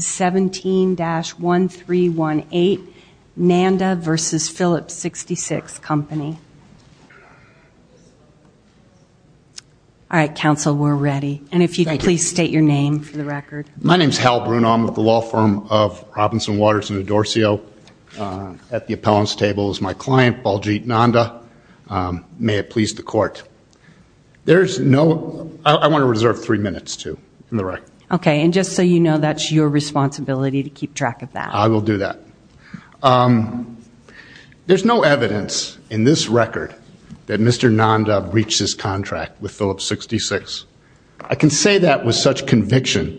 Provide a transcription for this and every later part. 17-1318 Nanda v. Phillips 66 Company. All right, counsel, we're ready. And if you could please state your name for the record. My name is Hal Bruno. I'm with the law firm of Robinson, Waters and Adorcio. At the appellant's table is my client, Baljeet Nanda. May it please the court. There's no... I want to reserve three responsibilities to keep track of that. I will do that. There's no evidence in this record that Mr. Nanda reached this contract with Phillips 66. I can say that with such conviction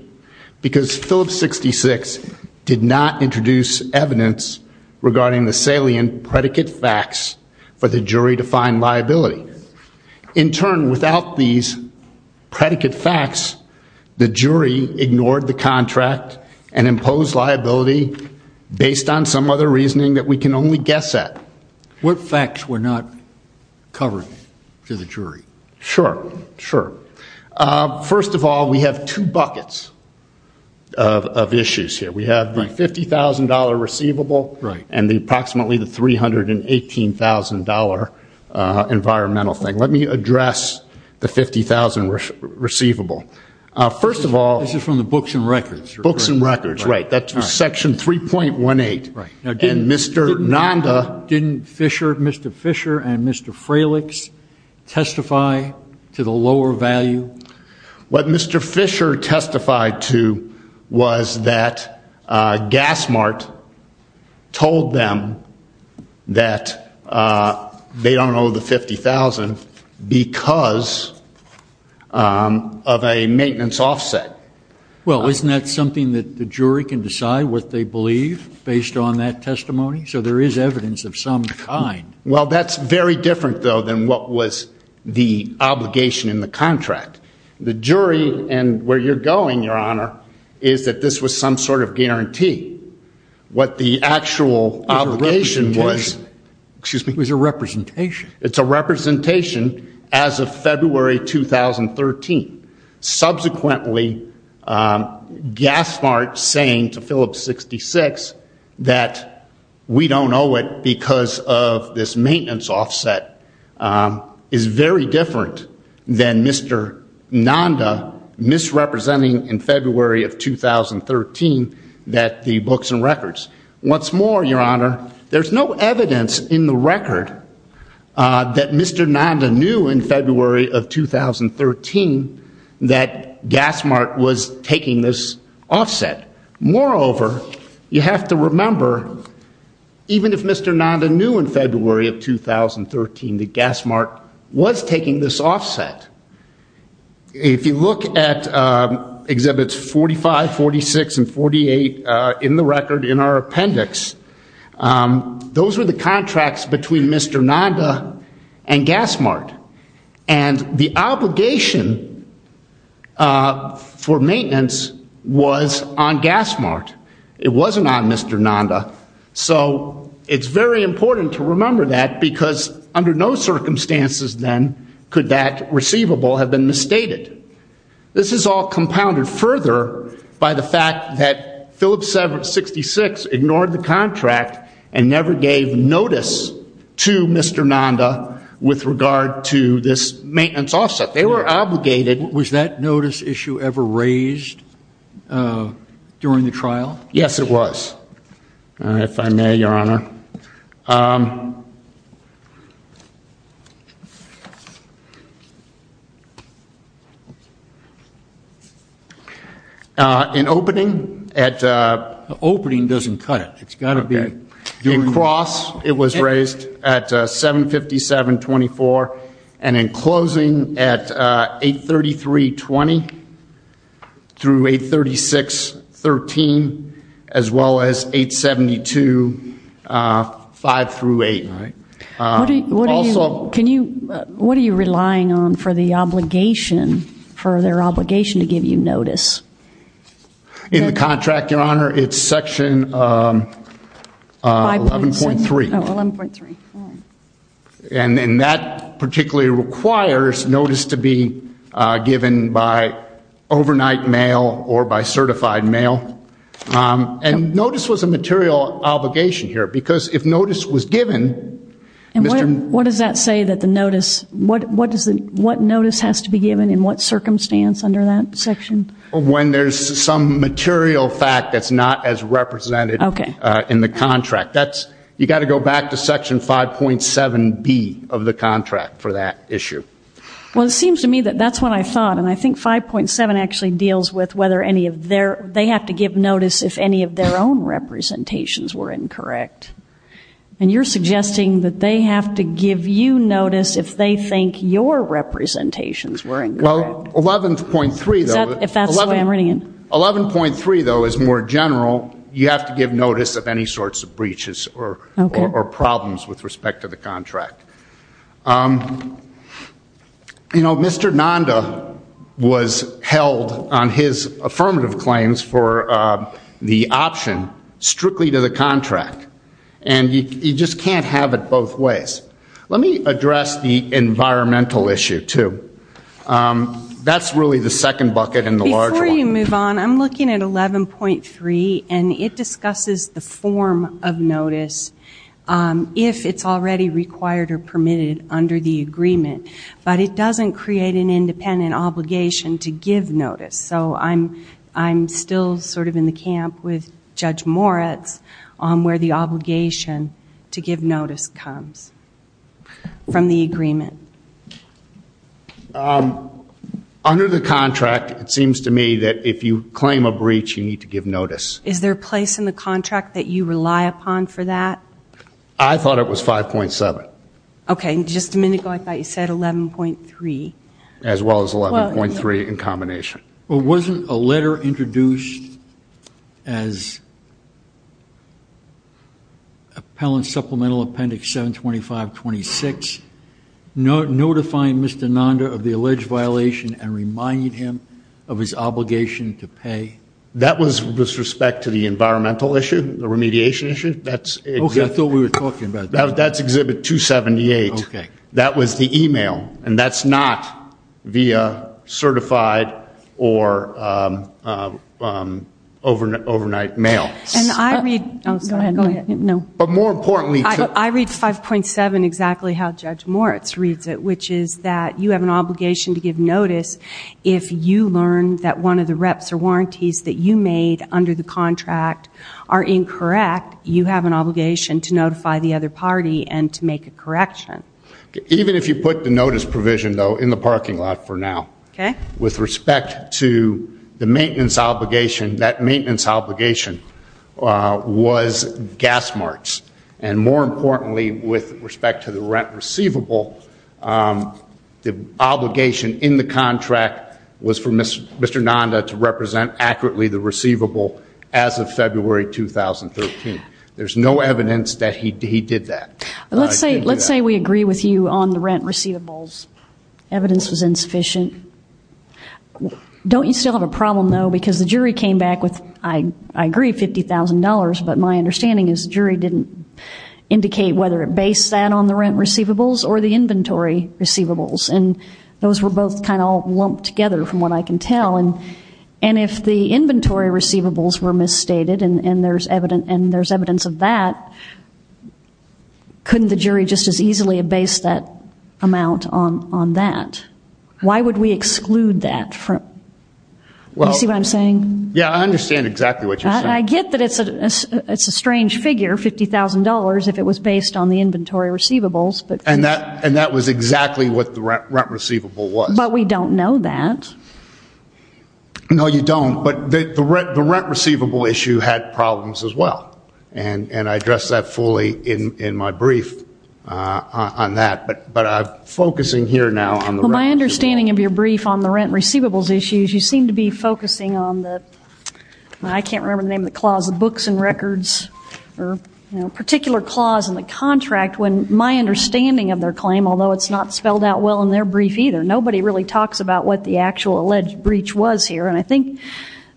because Phillips 66 did not introduce evidence regarding the salient predicate facts for the jury to find liability. In turn, without these predicate facts, the jury ignored the contract and imposed liability based on some other reasoning that we can only guess at. What facts were not covered to the jury? Sure, sure. First of all, we have two buckets of issues here. We have the $50,000 receivable and the approximately the $318,000 environmental thing. Let me address the $50,000 receivable. First of all... This is from the books and records. Books and records, right. That's section 3.18. Right. And Mr. Nanda... Didn't Fisher, Mr. Fisher and Mr. Fralichs testify to the they don't owe the $50,000 because of a maintenance offset. Well, isn't that something that the jury can decide what they believe based on that testimony? So there is evidence of some kind. Well, that's very different though than what was the obligation in the contract. The jury and where you're going, Your Honor, is that this was some sort of guarantee. What the actual obligation was... It was a representation. Excuse me? It was a representation. It's a representation as of February 2013. Subsequently, Gaspart saying to Phillips 66 that we don't owe it because of this maintenance offset is very different than Mr. Nanda misrepresenting in February of 2013 that the books and records. What's more, Your Honor, there's no evidence in the record that Mr. Nanda knew in February of 2013 that Gaspart was taking this offset. Moreover, you have to remember even if Mr. Nanda knew in February of 2013 that Gaspart was taking this offset, if you look at Exhibits 45, 46, and 48 in the record in our appendix, those were the contracts between Mr. Nanda and Gaspart. And the obligation for maintenance was on Gaspart. It wasn't on Mr. Nanda. So it's very important to remember that because under no circumstances then could that receivable have been misstated. This is all compounded further by the fact that Phillips 66 ignored the contract and never gave notice to Mr. Nanda with regard to this maintenance offset. They were obligated... Was that notice issue ever raised during the trial? Yes, it was. If I may, Your Honor, in opening at... Opening doesn't cut it. It's got to be... In cross it was raised at $757.24 and in closing at $833.20 through $836.13 as well as $872.00, five through eight. What are you relying on for the obligation, for their obligation to give you notice? In the contract, Your Honor, it's section 11.3. And that particularly requires notice to be given by overnight mail or by certified mail. And notice was a material obligation here because if notice was given... And what does that say that the notice... What notice has to be given in what circumstance under that section? When there's some material fact that's not as represented in the contract. That's... You got to go back to section 5.7B of the contract for that issue. Well, it seems to me that that's what I thought. And I think 5.7 actually deals with whether any of their... They have to give notice if any of their own representations were incorrect. And you're suggesting that they have to give you notice if they think your representations were incorrect. Well, 11.3 though... Is that... If that's the way I'm reading it. 11.3 though is more general. You have to give notice of any sorts of breaches or problems with respect to the contract. You know, Mr. Nanda was held on his affirmative claims for the option strictly to the contract. And you just can't have it both ways. Let me address the environmental issue too. That's really the second bucket and the large one. Before we move on, I'm looking at 11.3 and it discusses the form of notice if it's already required or permitted under the agreement. But it doesn't create an independent obligation to give notice. So I'm still sort of in the camp with Judge Moritz on where the obligation to give notice comes from the agreement. Under the contract, it seems to me that if you claim a breach, you need to give notice. Is there a place in the contract that you rely upon for that? I thought it was 5.7. Okay, just a minute ago I thought you said 11.3. As well as 11.3 in combination. Well, wasn't a letter introduced as Appellant Supplemental Appendix 72526 notifying Mr. Nanda of the alleged violation and reminding him of his obligation to pay? That was with respect to the environmental issue, the remediation issue. I thought we were talking about that. That's Exhibit 278. That was the email and that's not via But more importantly, I read 5.7 exactly how Judge Moritz reads it, which is that you have an obligation to give notice if you learn that one of the reps or warranties that you made under the contract are incorrect, you have an obligation to notify the other party and to make a correction. Even if you put the notice provision, though, in the parking lot for now, with respect to the maintenance obligation, that maintenance obligation was gas marks. And more importantly, with respect to the rent receivable, the obligation in the contract was for Mr. Nanda to represent accurately the receivable as of February 2013. There's no evidence that he did that. Let's say we agree with you on the rent receivables. Evidence was insufficient. Don't you still have a because the jury came back with, I agree, $50,000, but my understanding is the jury didn't indicate whether it based that on the rent receivables or the inventory receivables. And those were both kind of all lumped together from what I can tell. And if the inventory receivables were misstated and there's evidence of that, couldn't the jury just as easily have based that amount on that? Why would we exclude that? You see what I'm saying? Yeah, I understand exactly what you're saying. I get that it's a strange figure, $50,000, if it was based on the inventory receivables. And that was exactly what the rent receivable was. But we don't know that. No, you don't. But the rent receivable issue had problems as well. And I addressed that fully in my brief on that. But I'm focusing here now on the rent receivables. Well, my understanding of your brief on the rent receivables issues, you seem to be focusing on the, I can't remember the name of the clause, the books and records, or particular clause in the contract when my understanding of their claim, although it's not spelled out well in their brief either, nobody really talks about what the actual alleged breach was here. And I think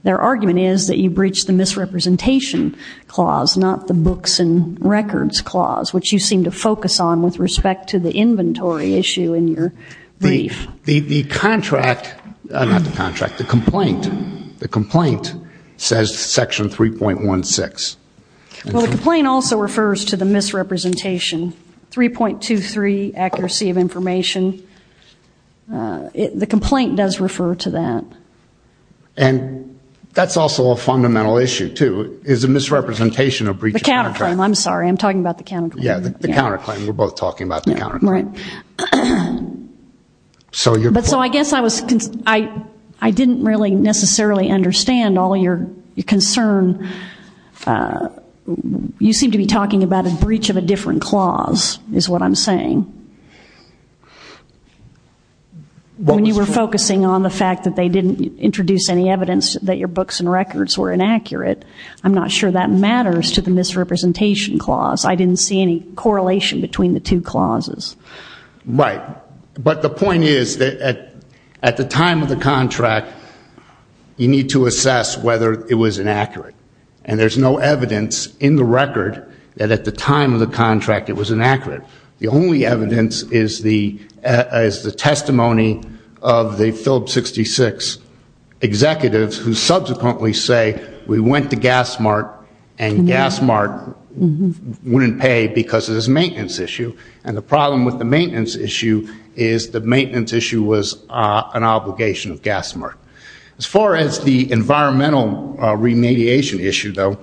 their argument is that you breached the misrepresentation clause, not the books and records clause, which you seem to focus on with respect to the inventory issue in your brief. The contract, not the contract, the complaint, the complaint says section 3.16. Well, the complaint also refers to the misrepresentation, 3.23 accuracy of information. The complaint does refer to that. And that's also a fundamental issue too, is a misrepresentation of breach of contract. The counterclaim, I'm sorry, I'm talking about the counterclaim. Yeah, the counterclaim, we're both talking about the counterclaim. Right. But so I guess I was, I didn't really necessarily understand all your concern. You seem to be talking about a breach of a different clause, is what I'm saying. When you were focusing on the fact that they didn't introduce any evidence that your books and records were inaccurate, I'm not sure that matters to the misrepresentation clause. I didn't see any correlation between the two clauses. Right. But the point is that at the time of the contract, you need to assess whether it was inaccurate. And there's no evidence in the record that at the time of the contract it was inaccurate. The only evidence is the testimony of the Phillips 66 executives who subsequently say, we went to GasMart and GasMart wouldn't pay because of this maintenance issue. And the problem with the maintenance issue is the maintenance issue was an obligation of GasMart. As far as the environmental remediation issue though,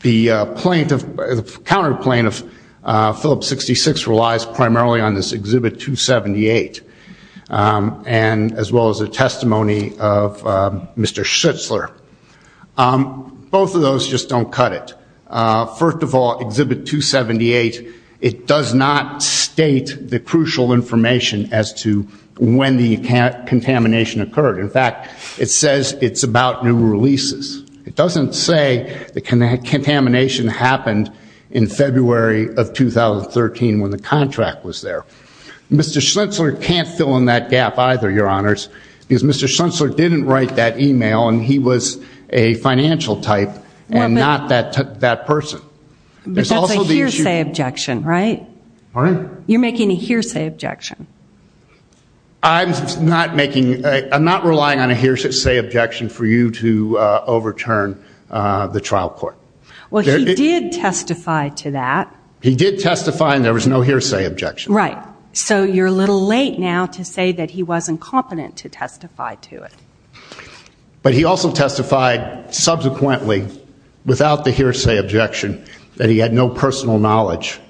the counterclaim of Phillips 66 relies primarily on this Exhibit 278, as well as the testimony of Mr. Schlitzler. Both of those just don't cut it. First of all, Exhibit 278, it does not state the crucial information as to when the contamination occurred. In fact, it says it's about new releases. It doesn't say the contamination happened in February of 2013 when the contract was there. Mr. Schlitzler can't fill in that gap either, Your Honors, because Mr. Schlitzler didn't write that email and he was a financial type and not that person. But that's a hearsay objection, right? Pardon? You're making a hearsay objection. I'm not relying on a hearsay objection for you to overturn the trial court. Well, he did testify to that. He did testify and there was no hearsay objection. Right. So you're a little late now to say that he wasn't competent to testify to it. But he also testified subsequently without the hearsay objection that he had no personal knowledge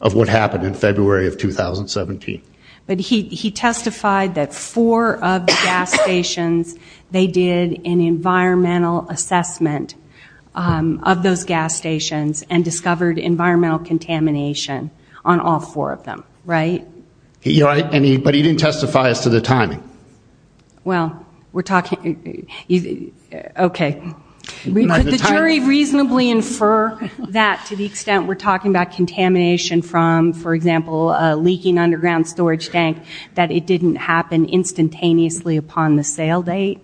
of what happened in February of 2017. But he testified that four of the gas stations, they did an environmental assessment of those gas stations and discovered environmental contamination on all four of them. Right? But he didn't testify as to the timing. Well, we're talking okay. Could the jury reasonably infer that to the extent we're talking about contamination from, for example, a leaking underground storage tank, that it didn't happen instantaneously upon the sale date?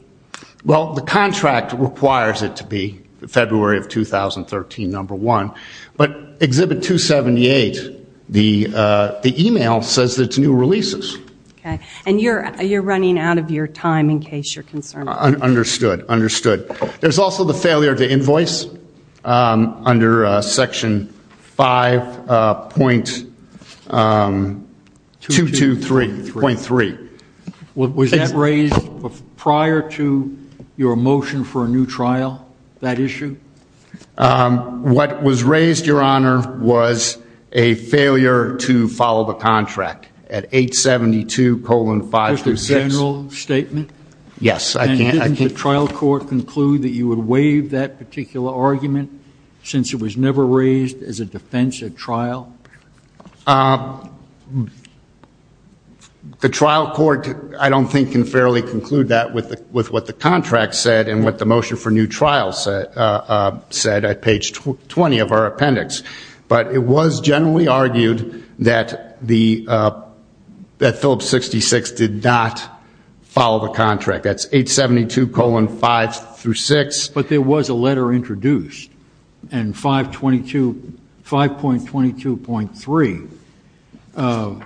Well, the contract requires it to be February of 2013, number one. But at 278, the email says that it's new releases. Okay. And you're running out of your time in case you're concerned. Understood. Understood. There's also the failure of the invoice under section 5.223.3. Was that raised prior to your motion for a new trial, that issue? What was raised, Your Honor, was a failure to follow the contract at 872-526. Was it a general statement? Yes. And didn't the trial court conclude that you would waive that particular argument since it was never raised as a defense at trial? The trial court, I don't think, can fairly conclude that with what the contract said and what the motion for new trial said at page 20 of our appendix. But it was generally argued that the, that Phillips 66 did not follow the contract. That's 872-526. But there was a letter introduced and 5.22.3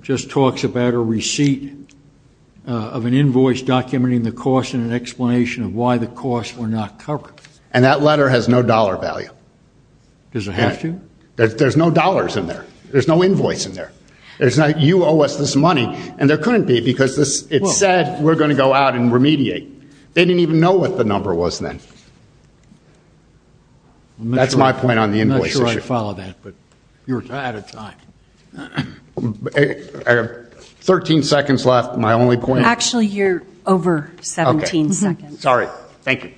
just talks about a receipt of an invoice documenting the cost and an explanation of why the costs were not covered. And that letter has no dollar value. Does it have to? There's no dollars in there. There's no invoice in there. You owe us this money. And there couldn't be because it said we're going to go out and remediate. They didn't even know what the number was then. That's my point on the invoice issue. I'm not sure I follow that, but you're out of time. I have 13 seconds left. My only point. Actually, you're over 17 seconds. Sorry. Thank you.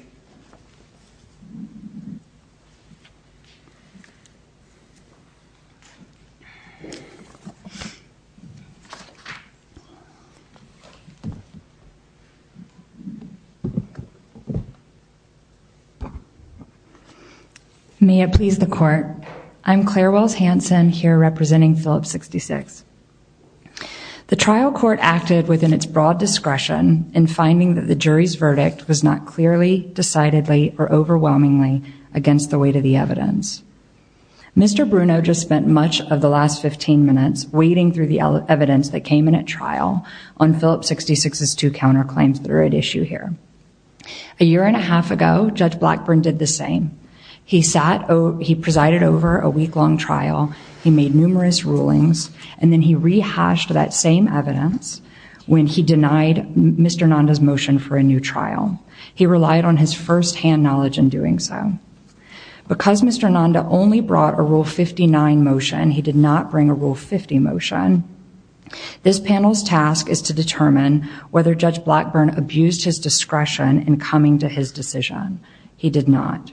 May it please the court. I'm Claire Wells Hanson here representing Phillips 66. The trial court acted within its broad discretion in finding that the jury's verdict was not clearly, decidedly, or overwhelmingly against the weight of the evidence. Mr. Bruno just spent much of the last 15 minutes wading through the evidence that came in at trial on Phillips 66's two counterclaims that are at issue here. A year and a half ago, Judge Blackburn did the same. He sat, he presided over a week-long trial. He made numerous rulings and then he hashed that same evidence when he denied Mr. Nanda's motion for a new trial. He relied on his firsthand knowledge in doing so. Because Mr. Nanda only brought a Rule 59 motion, he did not bring a Rule 50 motion. This panel's task is to determine whether Judge Blackburn abused his discretion in coming to his decision. He did not.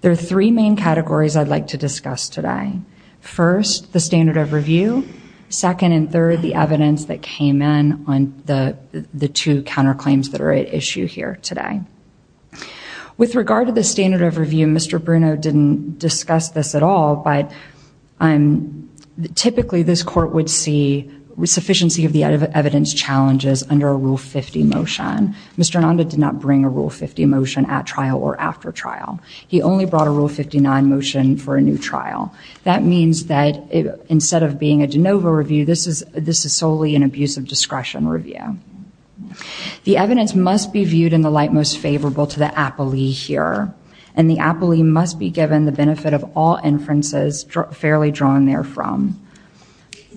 There are three main categories I'd like to discuss today. First, the standard of review. Second and third, the evidence that came in on the two counterclaims that are at issue here today. With regard to the standard of review, Mr. Bruno didn't discuss this at all, but typically this court would see sufficiency of the evidence challenges under a Rule 50 motion. Mr. Nanda did not a Rule 59 motion for a new trial. That means that instead of being a de novo review, this is solely an abuse of discretion review. The evidence must be viewed in the light most favorable to the apoly here. And the apoly must be given the benefit of all inferences fairly drawn there from.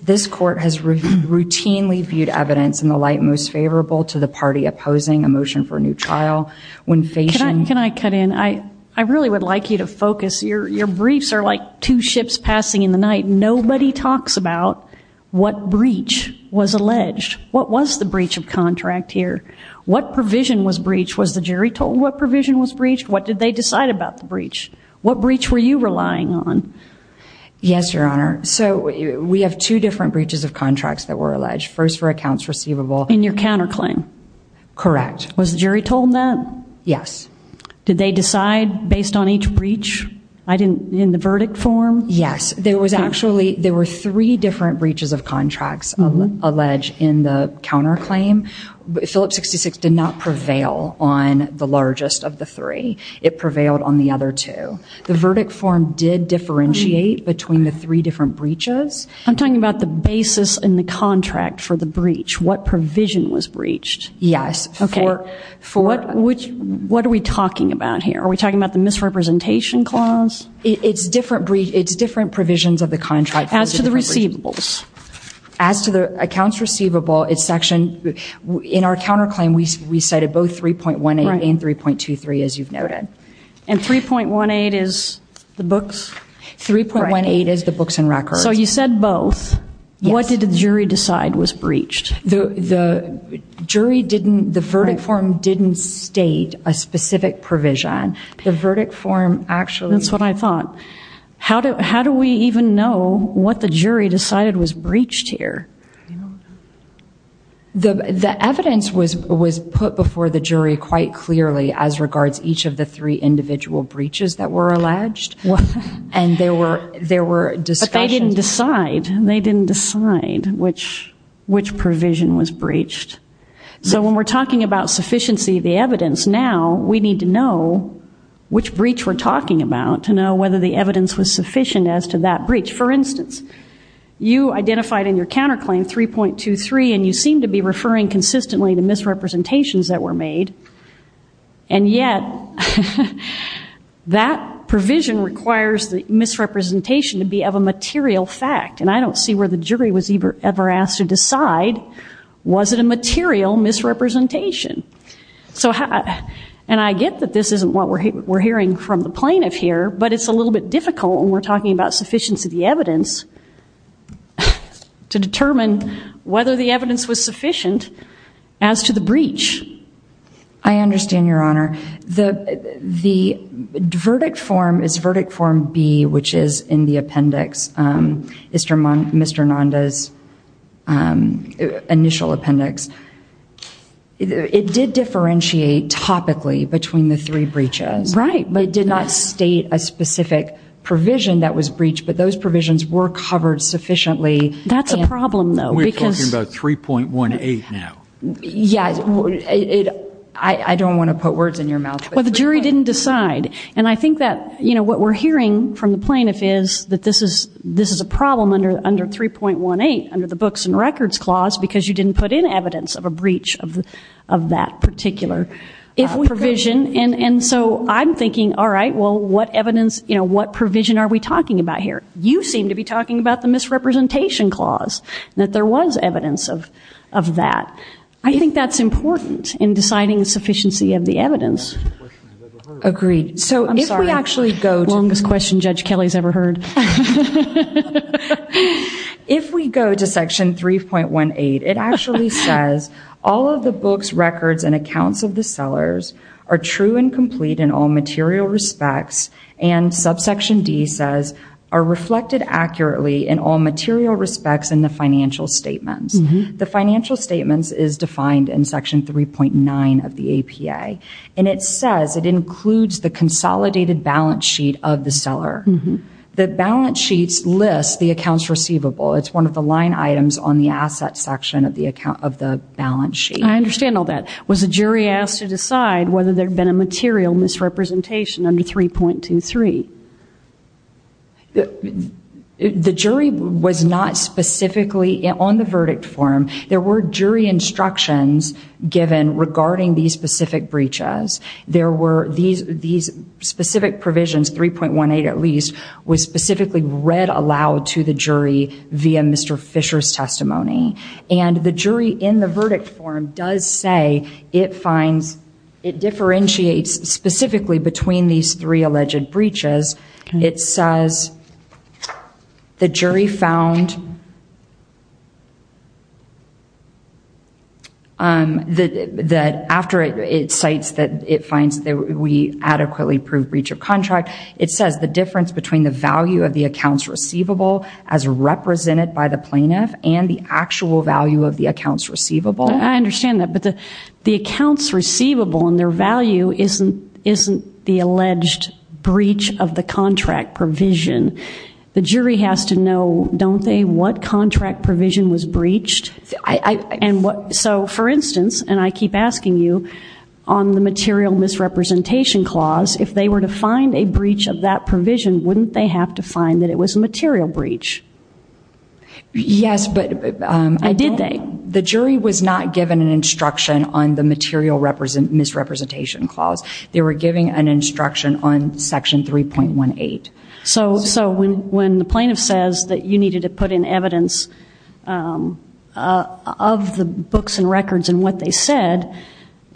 This court has routinely viewed evidence in the light most favorable to the party opposing a motion for a new trial. When Fashion... Your briefs are like two ships passing in the night. Nobody talks about what breach was alleged. What was the breach of contract here? What provision was breached? Was the jury told what provision was breached? What did they decide about the breach? What breach were you relying on? Yes, Your Honor. So we have two different breaches of contracts that were alleged. First, for accounts receivable. In your counterclaim? Correct. Was the jury told that? Yes. Did they decide based on each breach? In the verdict form? Yes. There were three different breaches of contracts alleged in the counterclaim. Phillips 66 did not prevail on the largest of the three. It prevailed on the other two. The verdict form did differentiate between the three different breaches. I'm talking about the basis in the contract for the breach. What provision was breached? Yes. What are we talking about here? Are we talking about the misrepresentation clause? It's different provisions of the contract. As to the receivables? As to the accounts receivable, in our counterclaim, we cited both 3.18 and 3.23, as you've noted. And 3.18 is the books? 3.18 is the books and records. So you said both. What did the jury decide was breached? The jury didn't, the verdict form didn't state a specific provision. The verdict form actually... That's what I thought. How do we even know what the jury decided was breached here? The evidence was put before the jury quite clearly as regards each of the three individual breaches that were alleged. But they didn't decide. They didn't decide which provision was breached. So when we're talking about sufficiency of the evidence now, we need to know which breach we're talking about to know whether the evidence was sufficient as to that breach. For instance, you identified in your counterclaim 3.23 and you seem to be referring consistently to misrepresentations that were made. And yet, that provision requires the misrepresentation to be of a material fact. And I don't see where the jury was ever asked to decide, was it a material misrepresentation? And I get that this isn't what we're hearing from the plaintiff here, but it's a little bit difficult when we're talking about sufficiency of the evidence to determine whether the evidence was sufficient as to the breach. I understand, Your Honor. The verdict form is verdict form B, which is in the appendix, Mr. Nanda's initial appendix. It did differentiate topically between the three breaches. Right. But it did not state a specific provision that was breached, but those provisions were covered sufficiently. That's a problem, though. We're talking about 3.18 now. Yeah. I don't want to put words in your mouth. Well, the jury didn't decide. And I think that what we're hearing from the plaintiff is that this is a problem under 3.18 under the Books and Records Clause because you didn't put in evidence of a breach of that particular provision. And so I'm thinking, all right, what evidence, what provision are we talking about here? You seem to be talking about the misrepresentation clause, that there was evidence of that. I think that's important in deciding sufficiency of the evidence. Agreed. I'm sorry, longest question Judge Kelly's ever heard. If we go to Section 3.18, it actually says, all of the books, records, and accounts of the sellers are true and complete in all material respects, and subsection D says, are reflected accurately in all material respects in the financial statements. The financial statements is defined in Section 3.9 of the APA. And it says it includes the consolidated balance sheet of the seller. The balance sheets list the accounts receivable. It's one of the line items on the asset section of the balance sheet. I understand all that. Was the jury asked to decide whether there had been a material misrepresentation under 3.23? The jury was not specifically on the verdict form. There were jury instructions given regarding these specific breaches. These specific provisions, 3.18 at least, was specifically read aloud to the jury via Mr. Fisher's testimony. And the jury in the verdict form does say it finds, it differentiates specifically between these three alleged breaches. It says, the jury found that after it cites that it finds that we adequately proved breach of contract, it says the difference between the value of the accounts receivable as represented by the plaintiff and the actual value of the accounts receivable. I understand that. But the accounts receivable and their value isn't the alleged breach of the contract provision. The jury has to know, don't they, what contract provision was breached? So for instance, and I keep asking you, on the material misrepresentation clause, if they were to find a breach of that provision, wouldn't they have to find that it was a material breach? Yes, but I don't... Did they? The jury was not given an instruction on the material misrepresentation clause. They were giving an instruction on section 3.18. So when the plaintiff says that you needed to put in evidence of the books and records and what they said,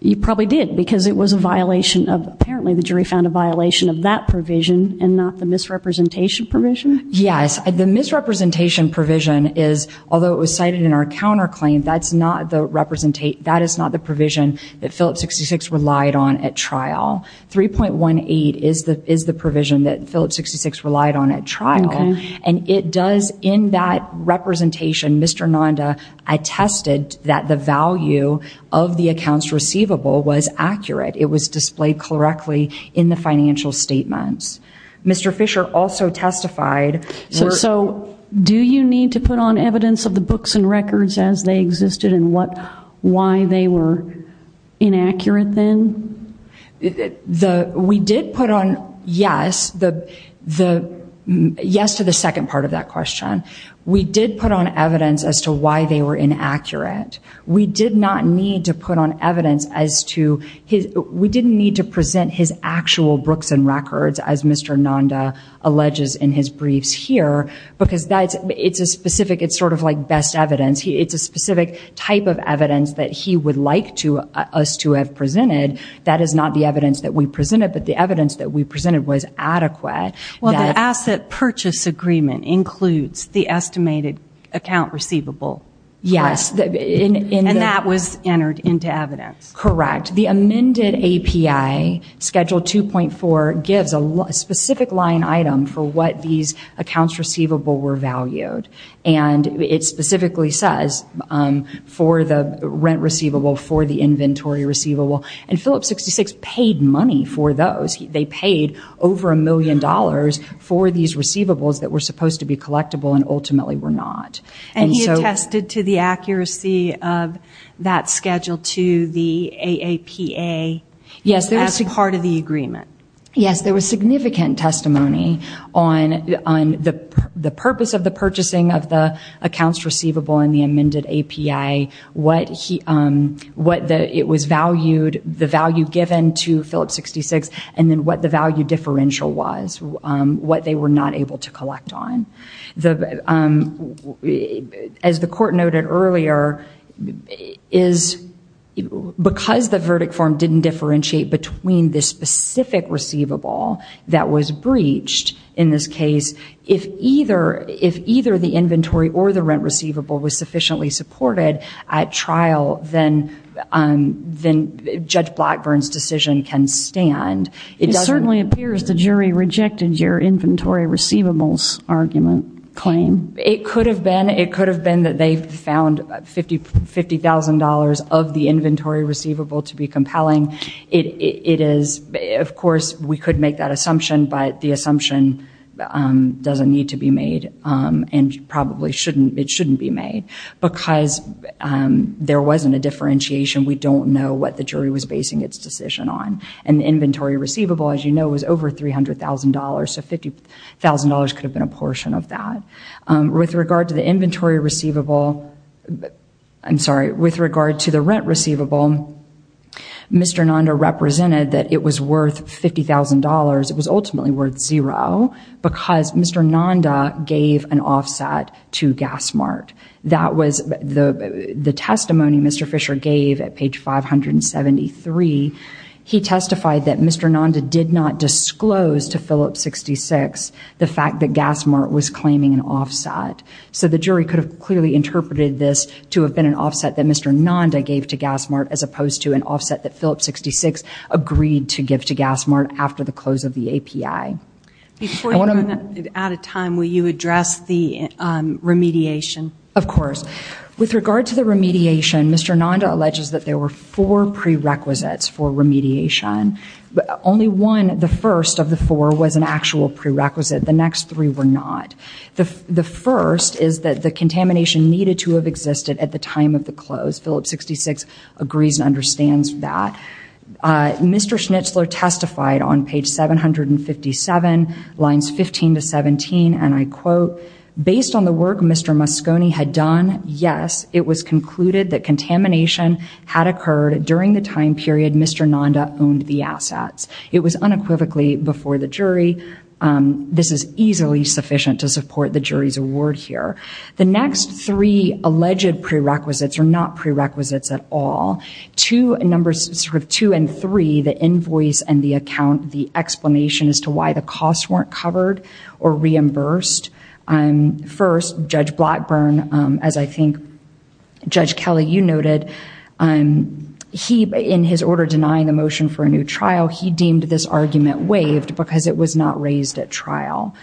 you probably did because it was a violation of, apparently the jury found a violation of that provision and not the misrepresentation provision? Yes. The misrepresentation provision is, although it was cited in our counterclaim, that is not the provision that Phillips 66 relied on at trial. 3.18 is the provision that Phillips 66 relied on at trial. And it does, in that representation, Mr. Nanda attested that the financial statements. Mr. Fisher also testified... So do you need to put on evidence of the books and records as they existed and why they were inaccurate then? We did put on, yes, yes to the second part of that question. We did put on evidence as to why they were inaccurate. We did not need to put on evidence as to... We didn't need to present his actual books and records, as Mr. Nanda alleges in his briefs here, because it's a specific, it's sort of like best evidence. It's a specific type of evidence that he would like us to have presented. That is not the evidence that we presented, but the evidence that we presented was adequate. Well, the asset purchase agreement includes the estimated account receivable. Yes. And that was entered into evidence. Correct. The amended API, Schedule 2.4, gives a specific line item for what these accounts receivable were valued. And it specifically says for the rent receivable, for the inventory receivable. And Phillips 66 paid money for those. They paid over a million dollars for these receivables that were supposed to be collectible and ultimately were not. And he attested to the accuracy of that Schedule 2, the AAPA, as part of the agreement. Yes. There was significant testimony on the purpose of the purchasing of the accounts receivable in the amended API, what it was valued, the value given to Phillips 66, and then what the value differential was, what they were not able to collect on. As the court noted earlier, because the verdict form didn't differentiate between the specific receivable that was breached in this case, if either the inventory or the rent receivable was sufficiently supported at trial, then Judge Blackburn's decision can stand. It certainly appears the jury rejected your inventory receivables argument claim. It could have been. It could have been that they found $50,000 of the inventory receivable to be compelling. It is, of course, we could make that assumption, but the assumption doesn't need to be made and probably shouldn't. It shouldn't be made because there wasn't a differentiation. We don't know what the jury was basing its decision on. The inventory receivable, as you know, was over $300,000, so $50,000 could have been a portion of that. With regard to the inventory receivable, I'm sorry, with regard to the rent receivable, Mr. Nanda represented that it was worth $50,000. It was ultimately worth zero because Mr. Nanda gave an offset to Gassmart. That was the testimony Mr. Fisher gave at page 573. He testified that Mr. Nanda did not disclose to Phillips 66 the fact that Gassmart was claiming an offset, so the jury could have clearly interpreted this to have been an offset that Mr. Nanda gave to Gassmart as opposed to an offset that Phillips 66 agreed to give to Gassmart after the close of the remediation. Of course. With regard to the remediation, Mr. Nanda alleges that there were four prerequisites for remediation. Only one, the first of the four, was an actual prerequisite. The next three were not. The first is that the contamination needed to have existed at the time of the close. Phillips 66 agrees and understands that. Mr. Schnitzler testified on page 757, lines 15 to 17, and I quote, based on the work Mr. Moscone had done, yes, it was concluded that contamination had occurred during the time period Mr. Nanda owned the assets. It was unequivocally before the jury. This is easily sufficient to support the jury's award here. The next three alleged prerequisites are not in the invoice and the account, the explanation as to why the costs weren't covered or reimbursed. First, Judge Blackburn, as I think Judge Kelly, you noted, he, in his order denying the motion for a new trial, he deemed this argument waived because it was not raised at trial.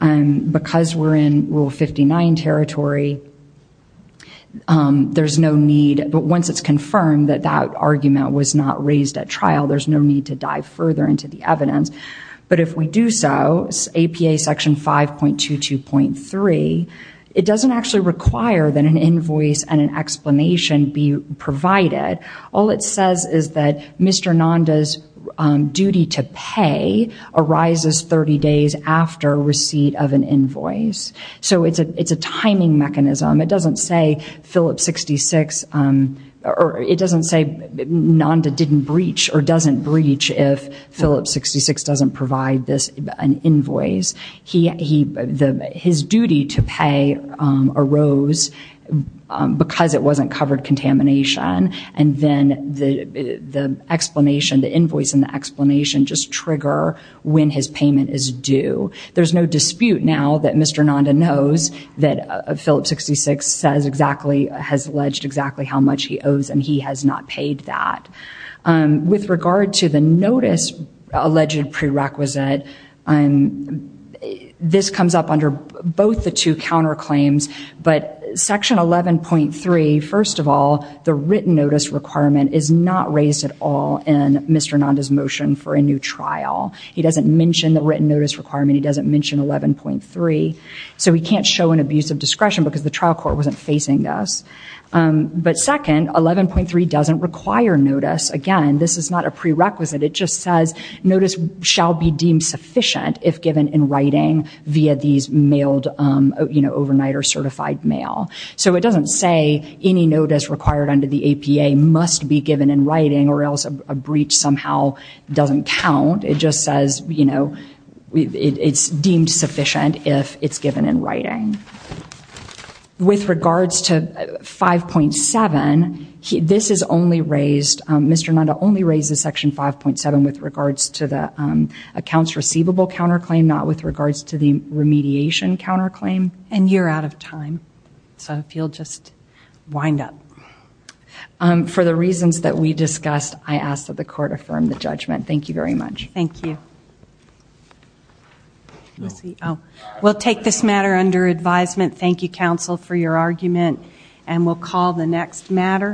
Because we're in Rule 59 territory, there's no need, but once it's confirmed that that argument was not raised at trial, there's no need to dive further into the evidence. But if we do so, APA section 5.22.3, it doesn't actually require that an invoice and an explanation be provided. All it says is that Mr. Nanda's duty to pay arises 30 days after receipt of an invoice. So it's a timing mechanism. It doesn't say Phillips 66, or it doesn't say Nanda didn't breach or doesn't breach if Phillips 66 doesn't provide this, an invoice. His duty to pay arose because it wasn't covered contamination. And then the explanation, the invoice and the explanation just trigger when his payment is due. There's no dispute now that Mr. Nanda knows that Phillips 66 says exactly, has alleged exactly how much he owes and he has not paid that. With regard to the notice alleged prerequisite, this comes up under both the two counterclaims. But section 11.3, first of all, the written notice requirement is not raised at all in Mr. Nanda's motion for a new trial. He doesn't mention the written notice requirement. He doesn't mention 11.3. So we can't show an abuse of discretion because the trial court wasn't facing this. But second, 11.3 doesn't require notice. Again, this is not a prerequisite. It just says notice shall be deemed sufficient if given in writing via these mailed, you know, overnight or certified mail. So it doesn't say any notice required under the APA must be given in writing or else a breach somehow doesn't count. It just with regards to 5.7, this is only raised, Mr. Nanda only raises section 5.7 with regards to the accounts receivable counterclaim, not with regards to the remediation counterclaim. And you're out of time. So if you'll just wind up. For the reasons that we discussed, I ask that the court affirm the judgment. Thank you very much. Thank you. We'll take this matter under advisement. Thank you, counsel, for your argument. And we'll call the next matter.